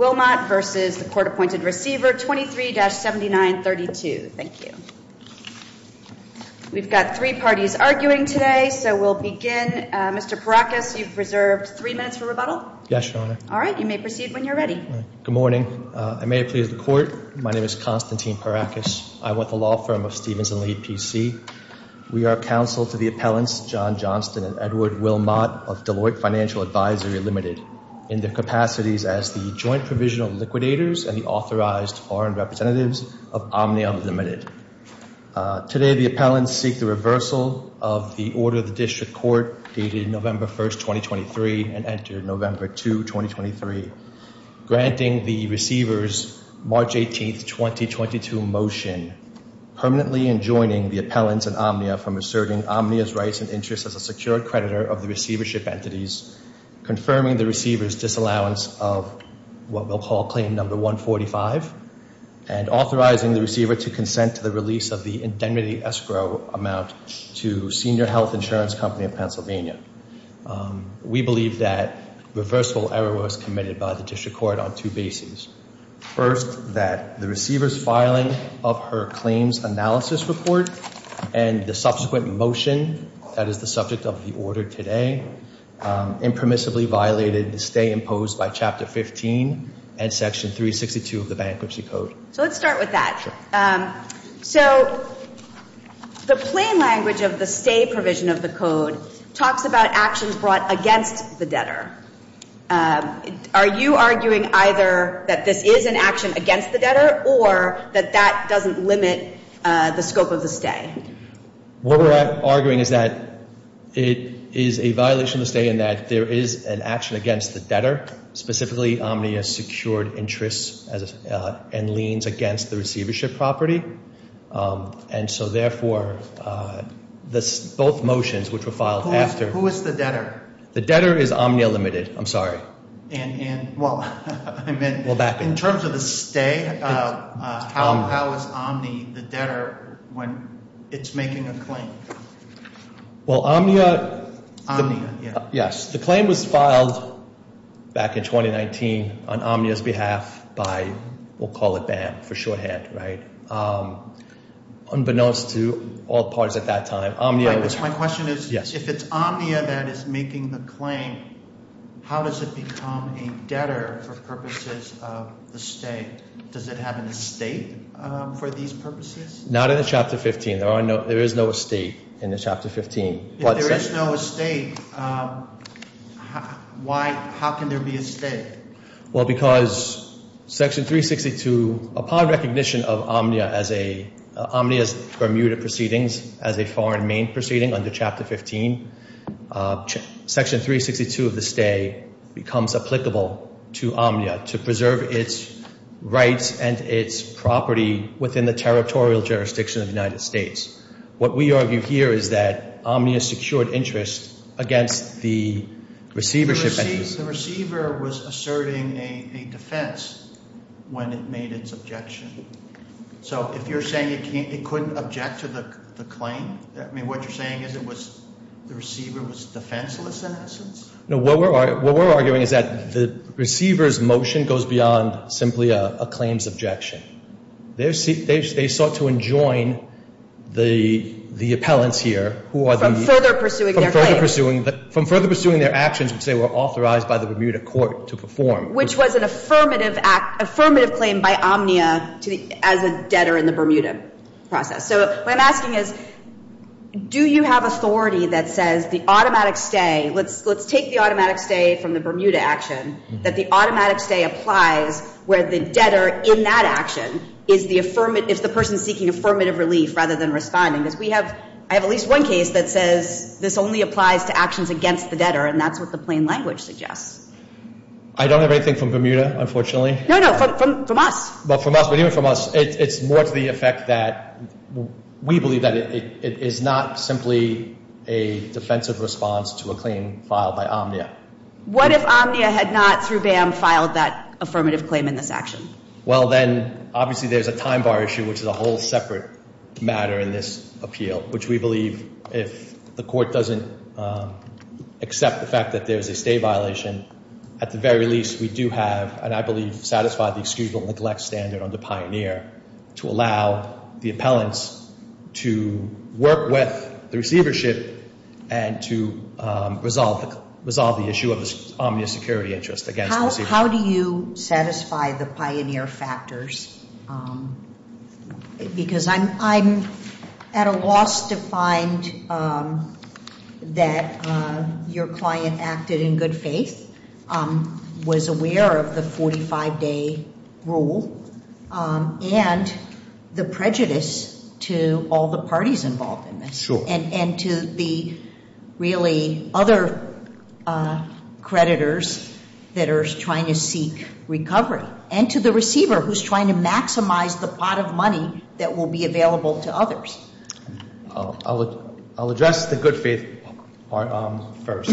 Wilmot v. Court-Appointed Receiver 23-7932. Thank you. We've got three parties arguing today, so we'll begin. Mr. Parakis, you've reserved three minutes for rebuttal. Yes, Your Honor. All right, you may proceed when you're ready. Good morning. I may please the Court. My name is Konstantin Parakis. I want the law firm of Stevens & Lee PC. We are counsel to the appellants John Johnston and Edward Wilmot of Deloitte Financial Advisory Limited. In their capacities as the joint provisional liquidators and the authorized foreign representatives of Omnia Unlimited. Today, the appellants seek the reversal of the order of the District Court dated November 1, 2023 and entered November 2, 2023, granting the receivers March 18, 2022 motion permanently enjoining the appellants and Omnia from asserting Omnia's rights and interests as a creditor of the receivership entities, confirming the receiver's disallowance of what we'll call claim number 145 and authorizing the receiver to consent to the release of the indemnity escrow amount to Senior Health Insurance Company of Pennsylvania. We believe that reversal error was committed by the District Court on two bases. First, that the receiver's filing of her claims analysis report and the subsequent motion that is the subject of the order today impermissibly violated the stay imposed by Chapter 15 and Section 362 of the Bankruptcy Code. So let's start with that. So the plain language of the stay provision of the Code talks about actions brought against the debtor. Are you arguing either that this is an action against the debtor or that that doesn't limit the scope of the stay? What we're arguing is that it is a violation of the stay and that there is an action against the debtor, specifically Omnia secured interests and liens against the receivership property. And so therefore, both motions which were filed after... Who is the debtor? The debtor is Omnia Limited. I'm sorry. In terms of the stay, how is Omnia the debtor when it's making a claim? Yes, the claim was filed back in 2019 on Omnia's behalf by, we'll call it BAM for shorthand, right? Unbeknownst to all parties at that time, Omnia was... My question is if it's Omnia that is making the claim, how does it become a debtor for purposes of the stay? Does it have an estate for these purposes? Not in the Chapter 15. There is no estate in the Chapter 15. If there is no estate, how can there be a stay? Well, because Section 362, upon recognition of Omnia's permuted proceedings as a foreign main proceeding under Chapter 15, Section 362 of the stay becomes applicable to Omnia to preserve its rights and its property within the territorial jurisdiction of the United States. What we argue here is that Omnia secured interest against the receivership... The receiver was asserting a defense when it made its objection. So if you're saying it couldn't object to the claim, I mean, what you're saying is the receiver was defenseless in essence? No, what we're arguing is that the receiver's motion goes beyond simply a claims objection. They sought to enjoin the appellants here who are the... From further pursuing their claims. From further pursuing their actions which they were authorized by the Bermuda Court to perform. Which was an affirmative claim by Omnia as a debtor in the Bermuda process. So what I'm asking is, do you have authority that says the automatic stay, let's take the automatic stay from the Bermuda action, that the automatic stay applies where the debtor in that action is the person seeking affirmative relief rather than responding? Because I have at least one case that says this only applies to actions against the debtor, and that's what the plain language suggests. I don't have anything from Bermuda, unfortunately. No, no, from us. But from us, but even from us, it's more to the effect that we believe that it is not simply a defensive response to a claim filed by Omnia. What if Omnia had not, through BAM, filed that affirmative claim in this action? Well, then obviously there's a time bar issue which is a whole separate matter in this appeal, which we believe if the court doesn't accept the fact that there's a violation, at the very least we do have, and I believe satisfy the excusable neglect standard under Pioneer to allow the appellants to work with the receivership and to resolve the issue of Omnia's security interest against the receivership. How do you satisfy the Pioneer factors? Because I'm at a loss to find out. That your client acted in good faith, was aware of the 45-day rule, and the prejudice to all the parties involved in this. Sure. And to the really other creditors that are trying to seek recovery. And to the receiver who's trying to maximize the pot of money that will be available to others. I'll address the good faith part first.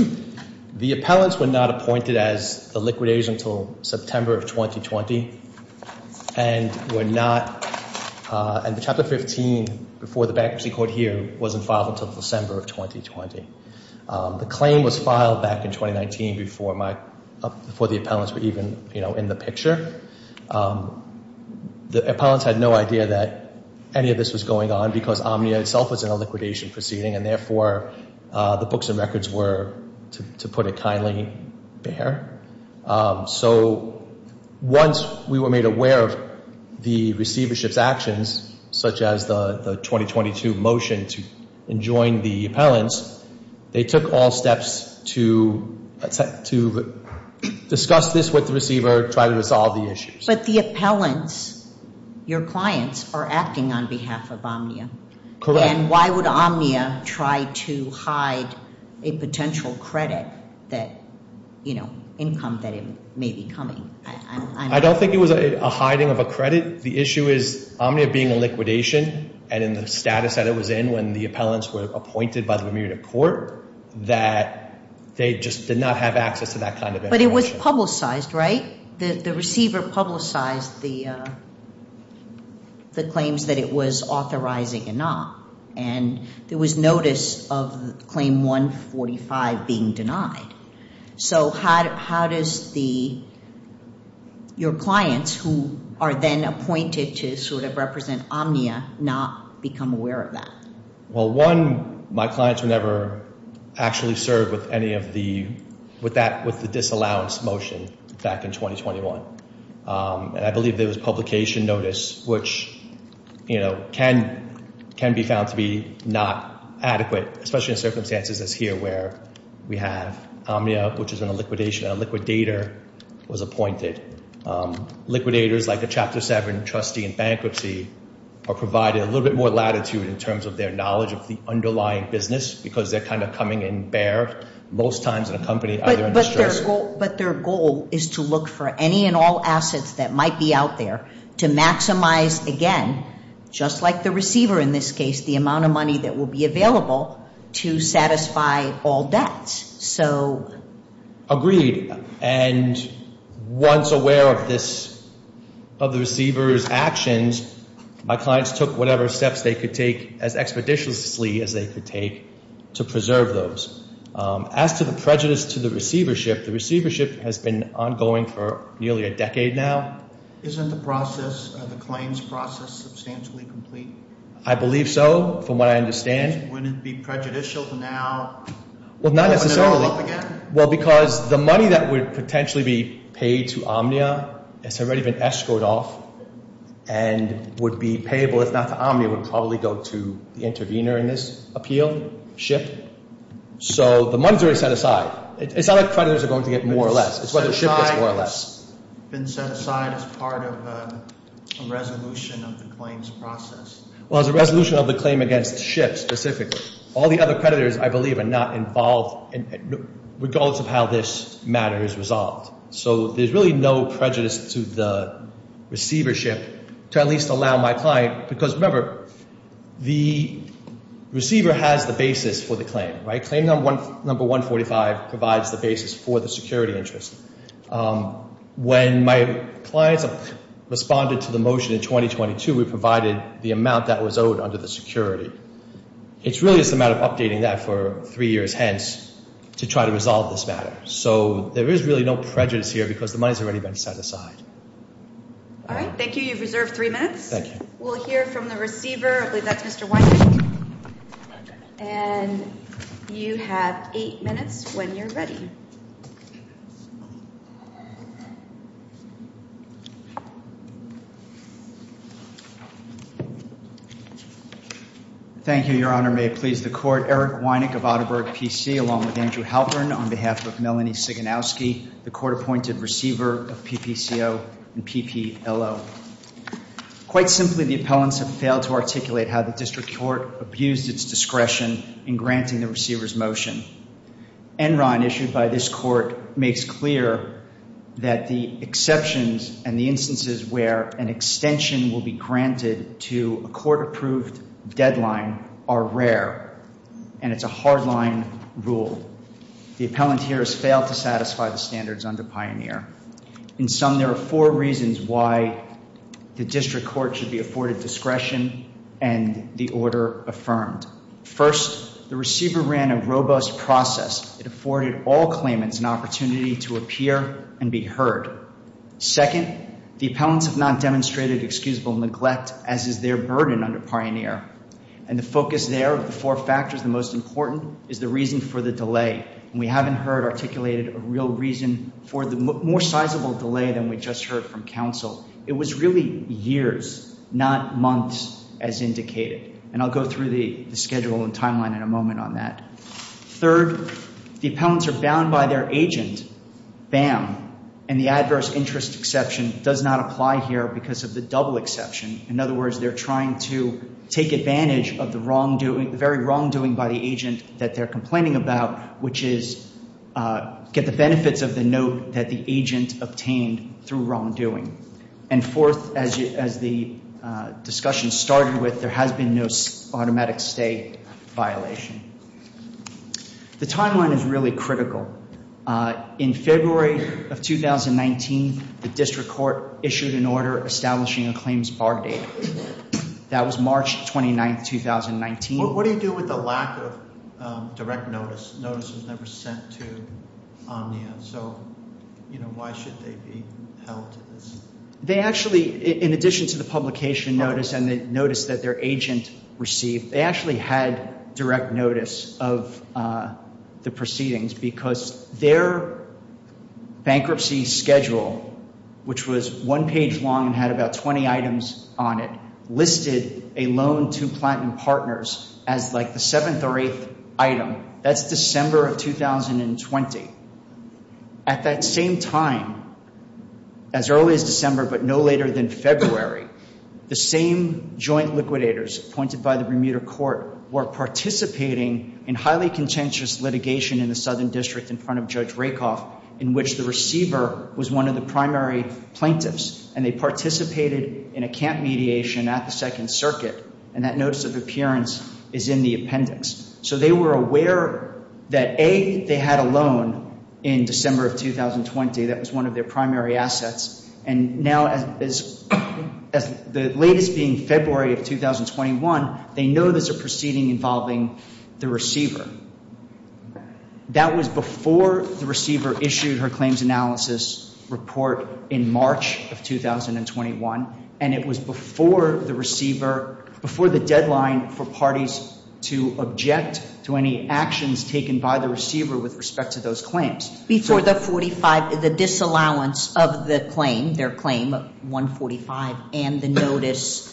The appellants were not appointed as the liquidators until September of 2020, and the Chapter 15 before the bankruptcy court here wasn't filed until December of 2020. The claim was filed back in 2019 before the appellants were even in the picture. The appellants had no idea that any of this was going on because Omnia itself was in a liquidation proceeding and therefore the books and records were, to put it kindly, bare. So once we were made aware of the receivership's actions, such as the 2022 motion to enjoin the appellants, they took all steps to discuss this with the receiver, try to resolve the issues. But the appellants, your clients, are acting on behalf of Omnia. Correct. And why would Omnia try to hide a potential credit that, you know, income that it may be coming? I don't think it was a hiding of a credit. The issue is Omnia being a liquidation and in the status that it was in when the appellants were appointed by the remunerative court that they just did not have access to that kind of information. But it was publicized, right? The receiver publicized the claims that it was authorizing and not. And there was notice of claim 145 being denied. So how does your clients, who are then appointed to sort of represent Omnia, not become aware of that? Well, one, my clients were never actually served with any of the, with that, with the disallowance motion back in 2021. And I believe there was publication notice, which, you know, can be found to be not adequate, especially in circumstances as here where we have Omnia, which is in a liquidation, a liquidator was appointed. Liquidators like a Chapter 7 trustee in bankruptcy are provided a little bit more latitude in terms of their knowledge of the underlying business because they're kind of coming in bare, most times in a company either in distress. But their goal is to look for any and all assets that might be out there to maximize, again, just like the receiver in this case, the amount of money that will be available to satisfy all debts. Agreed. And once aware of this, of the receiver's actions, my clients took whatever steps they could take as expeditiously as they could take to preserve those. As to the prejudice to the receivership, the receivership has been ongoing for nearly a decade now. Isn't the process, the claims process, substantially complete? I believe so, from what I understand. Wouldn't it be prejudicial to now? Well, not necessarily. Open it all up again? Well, because the money that would potentially be paid to Omnia has already been escorted off and would be payable, if not to Omnia, would probably go to the intervener in this appeal, SHIP. So the money's already set aside. It's not like creditors are going to get more or less. It's whether SHIP gets more or less. It's been set aside as part of a resolution of the claims process. Well, it's a resolution of the claim against SHIP specifically. All the other creditors, I believe, are not involved, regardless of how this matter is resolved. So there's really no prejudice to the receivership to at least allow my client, because remember, the receiver has the basis for the claim, right? Claim number 145 provides the basis for the security interest. When my clients responded to the motion in 2022, we provided the amount that was owed under the security. It's really just a matter of updating that for three years hence to try to resolve this matter. So there is really no prejudice here because the money's already been set aside. All right. Thank you. You've reserved three minutes. Thank you. We'll hear from the receiver. I believe that's Mr. Wynick. And you have eight minutes when you're ready. Thank you, Your Honor. May it please the Court. Eric Wynick of Atterberg PC along with Andrew Halpern on behalf of Melanie Siganowski, the court-appointed receiver of PPCO and PPLO. Quite simply, the appellants have failed to articulate how the district court abused its discretion in granting the receiver's motion. Enron, issued by this court, makes clear that the exceptions and the instances where an extension will be granted to a court-approved deadline are rare, and it's a hardline rule. The appellant here has failed to satisfy the under Pioneer. In sum, there are four reasons why the district court should be afforded discretion and the order affirmed. First, the receiver ran a robust process. It afforded all claimants an opportunity to appear and be heard. Second, the appellants have not demonstrated excusable neglect as is their burden under Pioneer. And the focus there of the four factors, the most important, is the reason for the delay. And we haven't heard articulated a real reason for the more sizable delay than we just heard from counsel. It was really years, not months, as indicated. And I'll go through the schedule and timeline in a moment on that. Third, the appellants are bound by their agent. Bam. And the adverse interest exception does not apply here because of the double exception. In other words, they're trying to take advantage of the wrongdoing, the very they're complaining about, which is get the benefits of the note that the agent obtained through wrongdoing. And fourth, as the discussion started with, there has been no automatic stay violation. The timeline is really critical. In February of 2019, the district court issued an order establishing a claims bar date. That was March 29, 2019. What do you do with the lack of direct notice? Notice was never sent to Omnia. So, you know, why should they be held to this? They actually, in addition to the publication notice and the notice that their agent received, they actually had direct notice of the proceedings because their bankruptcy schedule, which was one page long and had about 20 items on it, listed a loan to Platt & Partners as like a seventh or eighth item. That's December of 2020. At that same time, as early as December, but no later than February, the same joint liquidators appointed by the Bermuda Court were participating in highly contentious litigation in the Southern District in front of Judge Rakoff, in which the receiver was one of the primary plaintiffs. And they participated in a camp mediation at the Second Circuit. And that notice of appearance is in the appendix. So they were aware that A, they had a loan in December of 2020. That was one of their primary assets. And now as the latest being February of 2021, they know there's a proceeding involving the receiver. That was before the receiver issued her claims analysis report in March of 2021. And it was before the receiver, before the deadline for parties to object to any actions taken by the receiver with respect to those claims. Before the 45, the disallowance of the claim, their claim 145 and the notice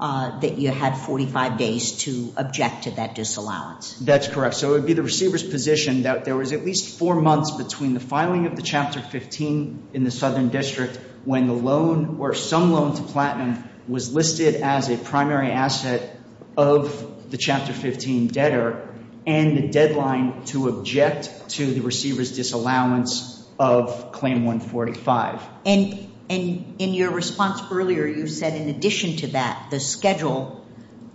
that you had 45 days to object to that disallowance. That's correct. So it would be the receiver's position that there was at least four months between the filing of Chapter 15 in the Southern District when the loan or some loan to Platinum was listed as a primary asset of the Chapter 15 debtor and the deadline to object to the receiver's disallowance of Claim 145. And in your response earlier, you said, in addition to that, the schedule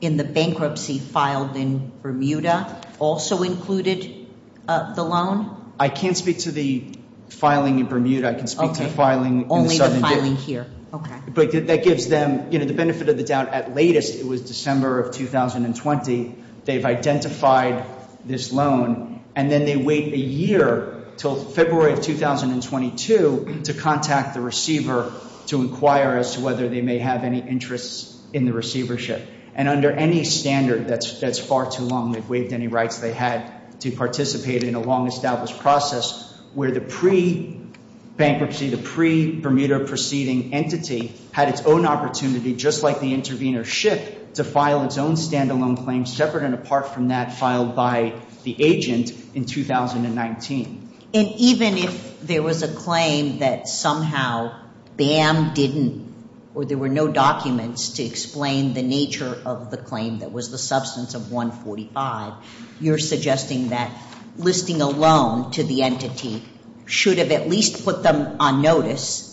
in the bankruptcy filed in Bermuda also included the loan? I can't speak to the filing in Bermuda. I can speak to the filing only the filing here. Okay. But that gives them, you know, the benefit of the doubt at latest. It was December of 2020. They've identified this loan and then they wait a year till February of 2022 to contact the receiver to inquire as to whether they may have any interests in the receivership. And under any standard that's far too long, they've waived any rights they had to participate in a long established process where the pre-bankruptcy, the pre-Bermuda proceeding entity had its own opportunity, just like the intervener ship, to file its own standalone claim separate and apart from that filed by the agent in 2019. And even if there was a claim that somehow BAM didn't, or there were no documents to explain the nature of the claim that was the substance of 145, you're suggesting that listing a loan to the entity should have at least put them on notice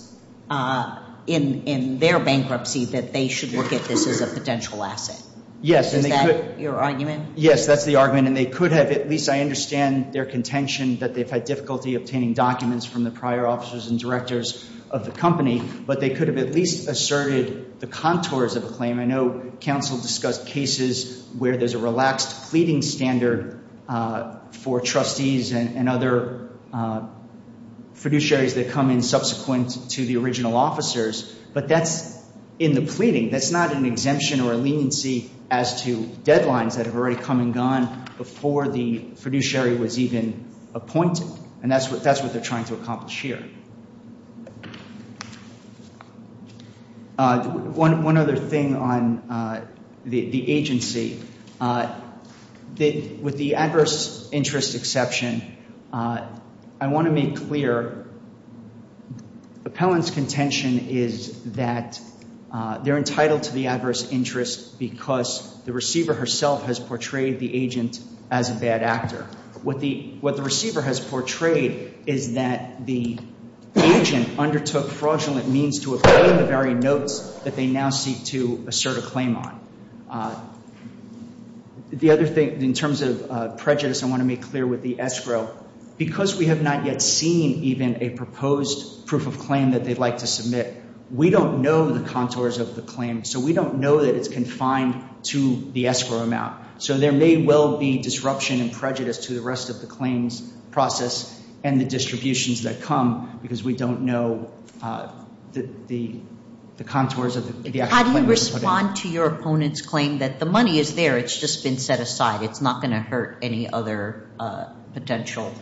in their bankruptcy that they should look at this as a potential asset. Yes. Is that your argument? Yes, that's the argument. And they could have, at least I understand their contention that they've had difficulty obtaining documents from the prior officers and directors of the company, but they could have at least asserted the contours of a claim. I know counsel discussed cases where there's a relaxed pleading standard for trustees and other fiduciaries that come in subsequent to the original officers, but that's in the pleading. That's not an exemption or leniency as to deadlines that have already come and gone before the fiduciary was even appointed. And that's what they're trying to accomplish here. One other thing on the agency. With the adverse interest exception, I want to make clear appellant's contention is that they're entitled to the adverse interest because the receiver herself has portrayed the agent as a bad actor. What the receiver has portrayed is that the agent undertook fraudulent means to obtain the very notes that they now seek to assert a claim on. The other thing in terms of prejudice, I want to make clear with the escrow, because we have not yet seen even a proposed proof of claim that they'd like to submit, we don't know the contours of the claim. So we don't know that it's confined to the escrow amount. So there may well be disruption and prejudice to the rest of the claims process and the we don't know the contours of the actual claim. How do you respond to your opponent's claim that the money is there, it's just been set aside, it's not going to hurt any other potential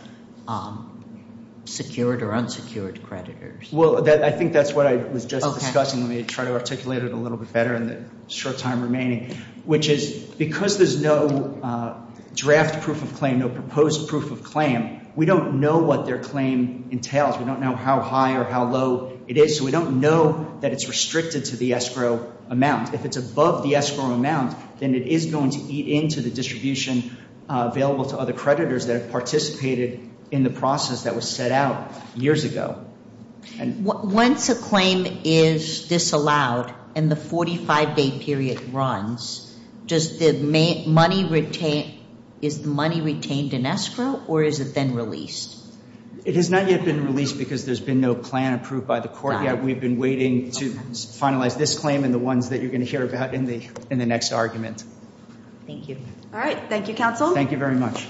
secured or unsecured creditors? Well, I think that's what I was just discussing. Let me try to articulate it a little bit better in the short time remaining, which is because there's no draft proof of claim, no proposed proof of claim, we don't know what their claim entails. We don't know how high or how low it is. So we don't know that it's restricted to the escrow amount. If it's above the escrow amount, then it is going to eat into the distribution available to other creditors that have participated in the process that was set out years ago. Once a claim is disallowed and the 45-day period runs, is the money retained in escrow or is it then released? It has not yet been released because there's been no plan approved by the court yet. We've been waiting to finalize this claim and the ones that you're going to hear about in the next argument. Thank you. All right. Thank you, counsel. Thank you very much.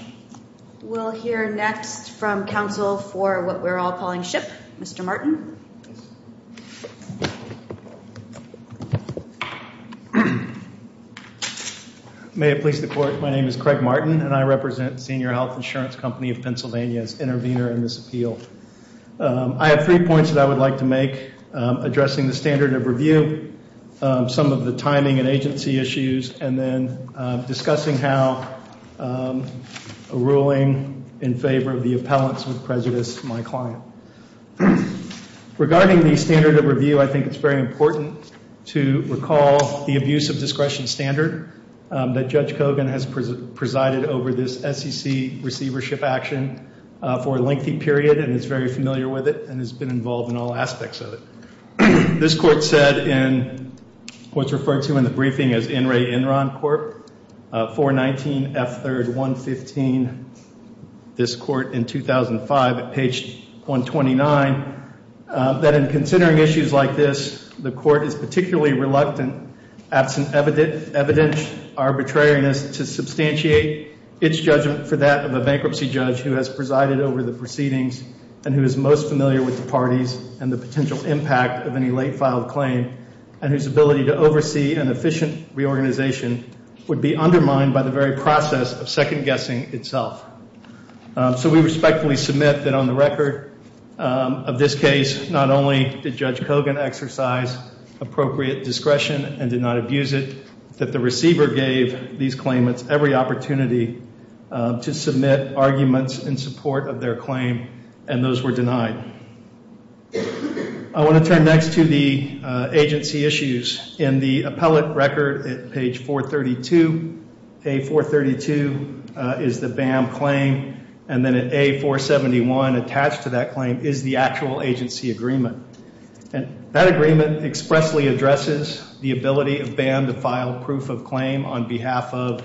We'll hear next from counsel for what we're all calling ship, Mr. Martin. Yes. May it please the court, my name is Craig Martin and I represent Senior Health Insurance Company of Pennsylvania as intervener in this appeal. I have three points that I would like to make addressing the standard of review, some of the timing and agency issues, and then discussing how a ruling in favor of the appellants would prejudice my client. Regarding the standard of review, I think it's very important to recall the abuse of discretion standard that Judge Kogan has presided over this SEC receivership action for a lengthy period and is very familiar with it and has been involved in all aspects of it. This court said in what's referred to in the briefing as NRA Enron Corp 419 F3rd 115, this court in 2005 at page 129, that in considering issues like this, the court is particularly reluctant, absent evident arbitrariness to substantiate its judgment for that of a bankruptcy judge who has presided over the proceedings and who is most familiar with the parties and the potential impact of any late claim and whose ability to oversee an efficient reorganization would be undermined by the very process of second guessing itself. So we respectfully submit that on the record of this case, not only did Judge Kogan exercise appropriate discretion and did not abuse it, that the receiver gave these claimants every opportunity to submit arguments in support of their claim and those were not undermined. I want to turn next to the agency issues in the appellate record at page 432. A432 is the BAM claim and then at A471 attached to that claim is the actual agency agreement. And that agreement expressly addresses the ability of BAM to file proof of claim on behalf of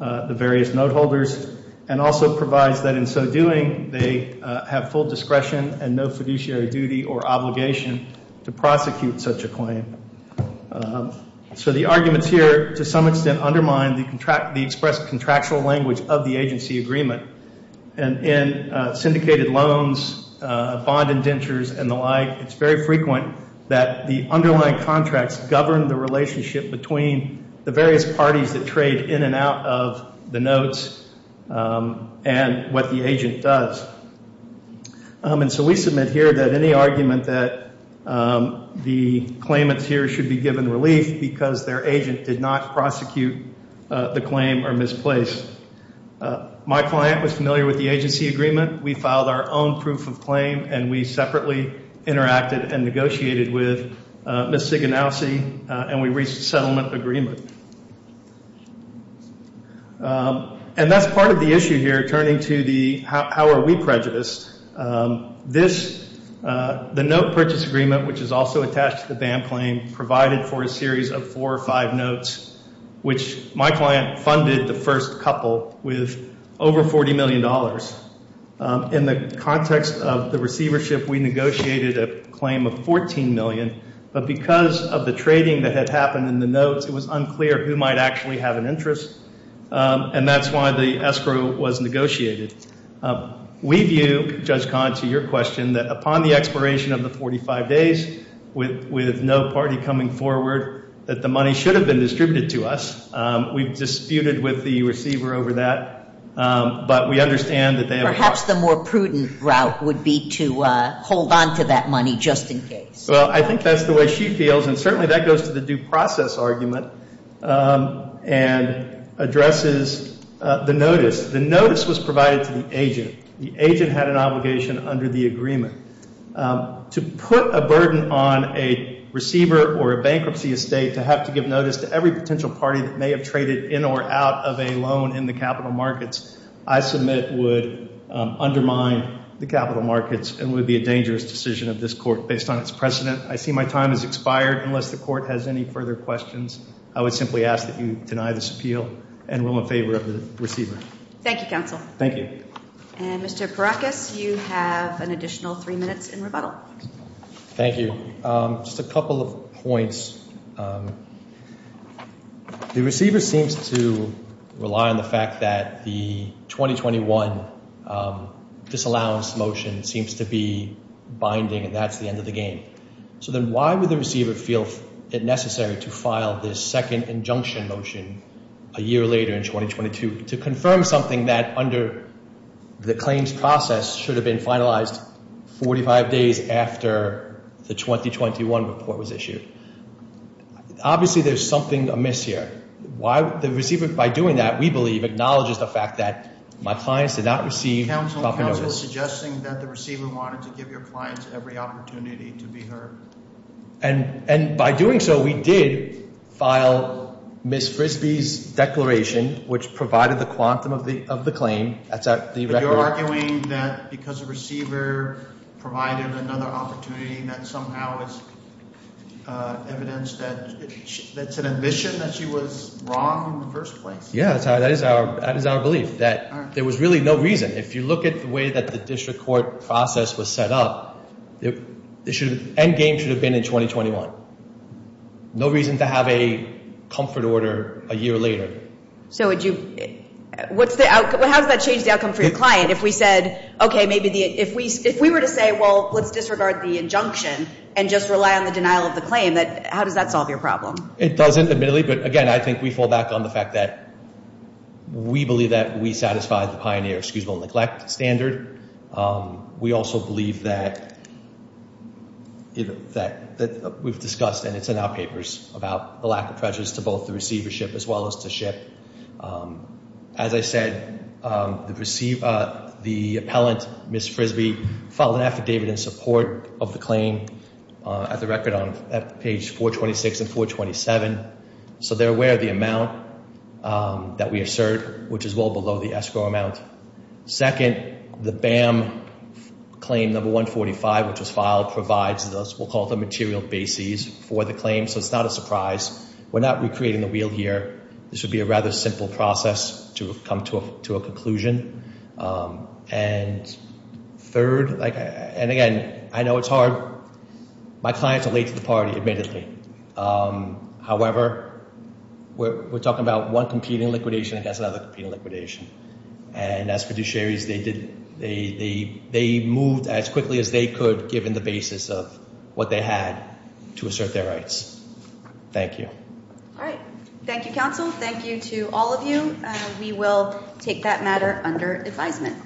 the various note holders and also provides that in so doing they have full discretion and no fiduciary duty or obligation to prosecute such a claim. So the arguments here to some extent undermine the contract the expressed contractual language of the agency agreement and in syndicated loans, bond indentures and the like, it's very frequent that the underlying contracts govern the relationship between the various parties that trade in and out of the notes and what the agent does. And so we submit here that any argument that the claimants here should be given relief because their agent did not prosecute the claim or misplace. My client was familiar with the agency agreement. We filed our own proof of claim and we separately interacted and negotiated with Miss Siganowski and we reached settlement agreement. And that's part of the issue here turning to the how are we prejudiced. This the note purchase agreement which is also attached to the BAM claim provided for a series of four or five notes which my client funded the first couple with over 40 million dollars. In the context of the but because of the trading that had happened in the notes it was unclear who might actually have an interest and that's why the escrow was negotiated. We view Judge Kahn to your question that upon the expiration of the 45 days with with no party coming forward that the money should have been distributed to us. We've disputed with the receiver over that but we understand that they perhaps the more prudent route would be to hold on to that money just in case. Well I think that's the way she feels and certainly that goes to the due process argument and addresses the notice. The notice was provided to the agent. The agent had an obligation under the agreement to put a burden on a receiver or a bankruptcy estate to have to give notice to every potential party that may have traded in or out of a loan in the capital markets I submit would undermine the capital markets and would be a dangerous decision of this court based on its precedent. I see my time has expired unless the court has any further questions. I would simply ask that you deny this appeal and rule in favor of the receiver. Thank you counsel. Thank you. And Mr. Parakis you have an additional three minutes in rebuttal. Thank you. Just a couple of points. The receiver seems to rely on the fact that the 2021 disallowance motion seems to be so then why would the receiver feel it necessary to file this second injunction motion a year later in 2022 to confirm something that under the claims process should have been finalized 45 days after the 2021 report was issued. Obviously there's something amiss here. Why the receiver by doing that we believe acknowledges the fact that my clients did not receive proper notice. Counsel and and by doing so we did file Ms. Frisbee's declaration which provided the quantum of the of the claim that's at the record. You're arguing that because the receiver provided another opportunity that somehow is evidence that that's an admission that she was wrong in the first place. Yeah that is our that is our belief that there was really no reason if you look at the way that the district court process was set up it should end game should have been in 2021. No reason to have a comfort order a year later. So would you what's the outcome how does that change the outcome for your client if we said okay maybe the if we if we were to say well let's disregard the injunction and just rely on the denial of the claim that how does that solve your problem? It doesn't admittedly but again I think we fall back on the fact that we believe that we satisfy the pioneer excusable neglect standard. We also believe that that that we've discussed and it's in our papers about the lack of treasures to both the receivership as well as to ship. As I said the receive the appellant Ms. Frisbee filed an affidavit in support of the claim at the record on at page 426 and 427. So they're aware of the amount that we assert which is well below the escrow amount. Second the BAM claim number 145 which was filed provides this we'll call the material basis for the claim so it's not a surprise. We're not recreating the wheel here this would be a rather simple process to come to a conclusion and third like and again I know it's hard my clients are late to the party admittedly. However we're talking about one competing liquidation against another competing liquidation and as fiduciaries they did they moved as quickly as they could given the basis of what they had to assert their rights. Thank you. All right thank you counsel thank you to all of you we will take that matter under advisement.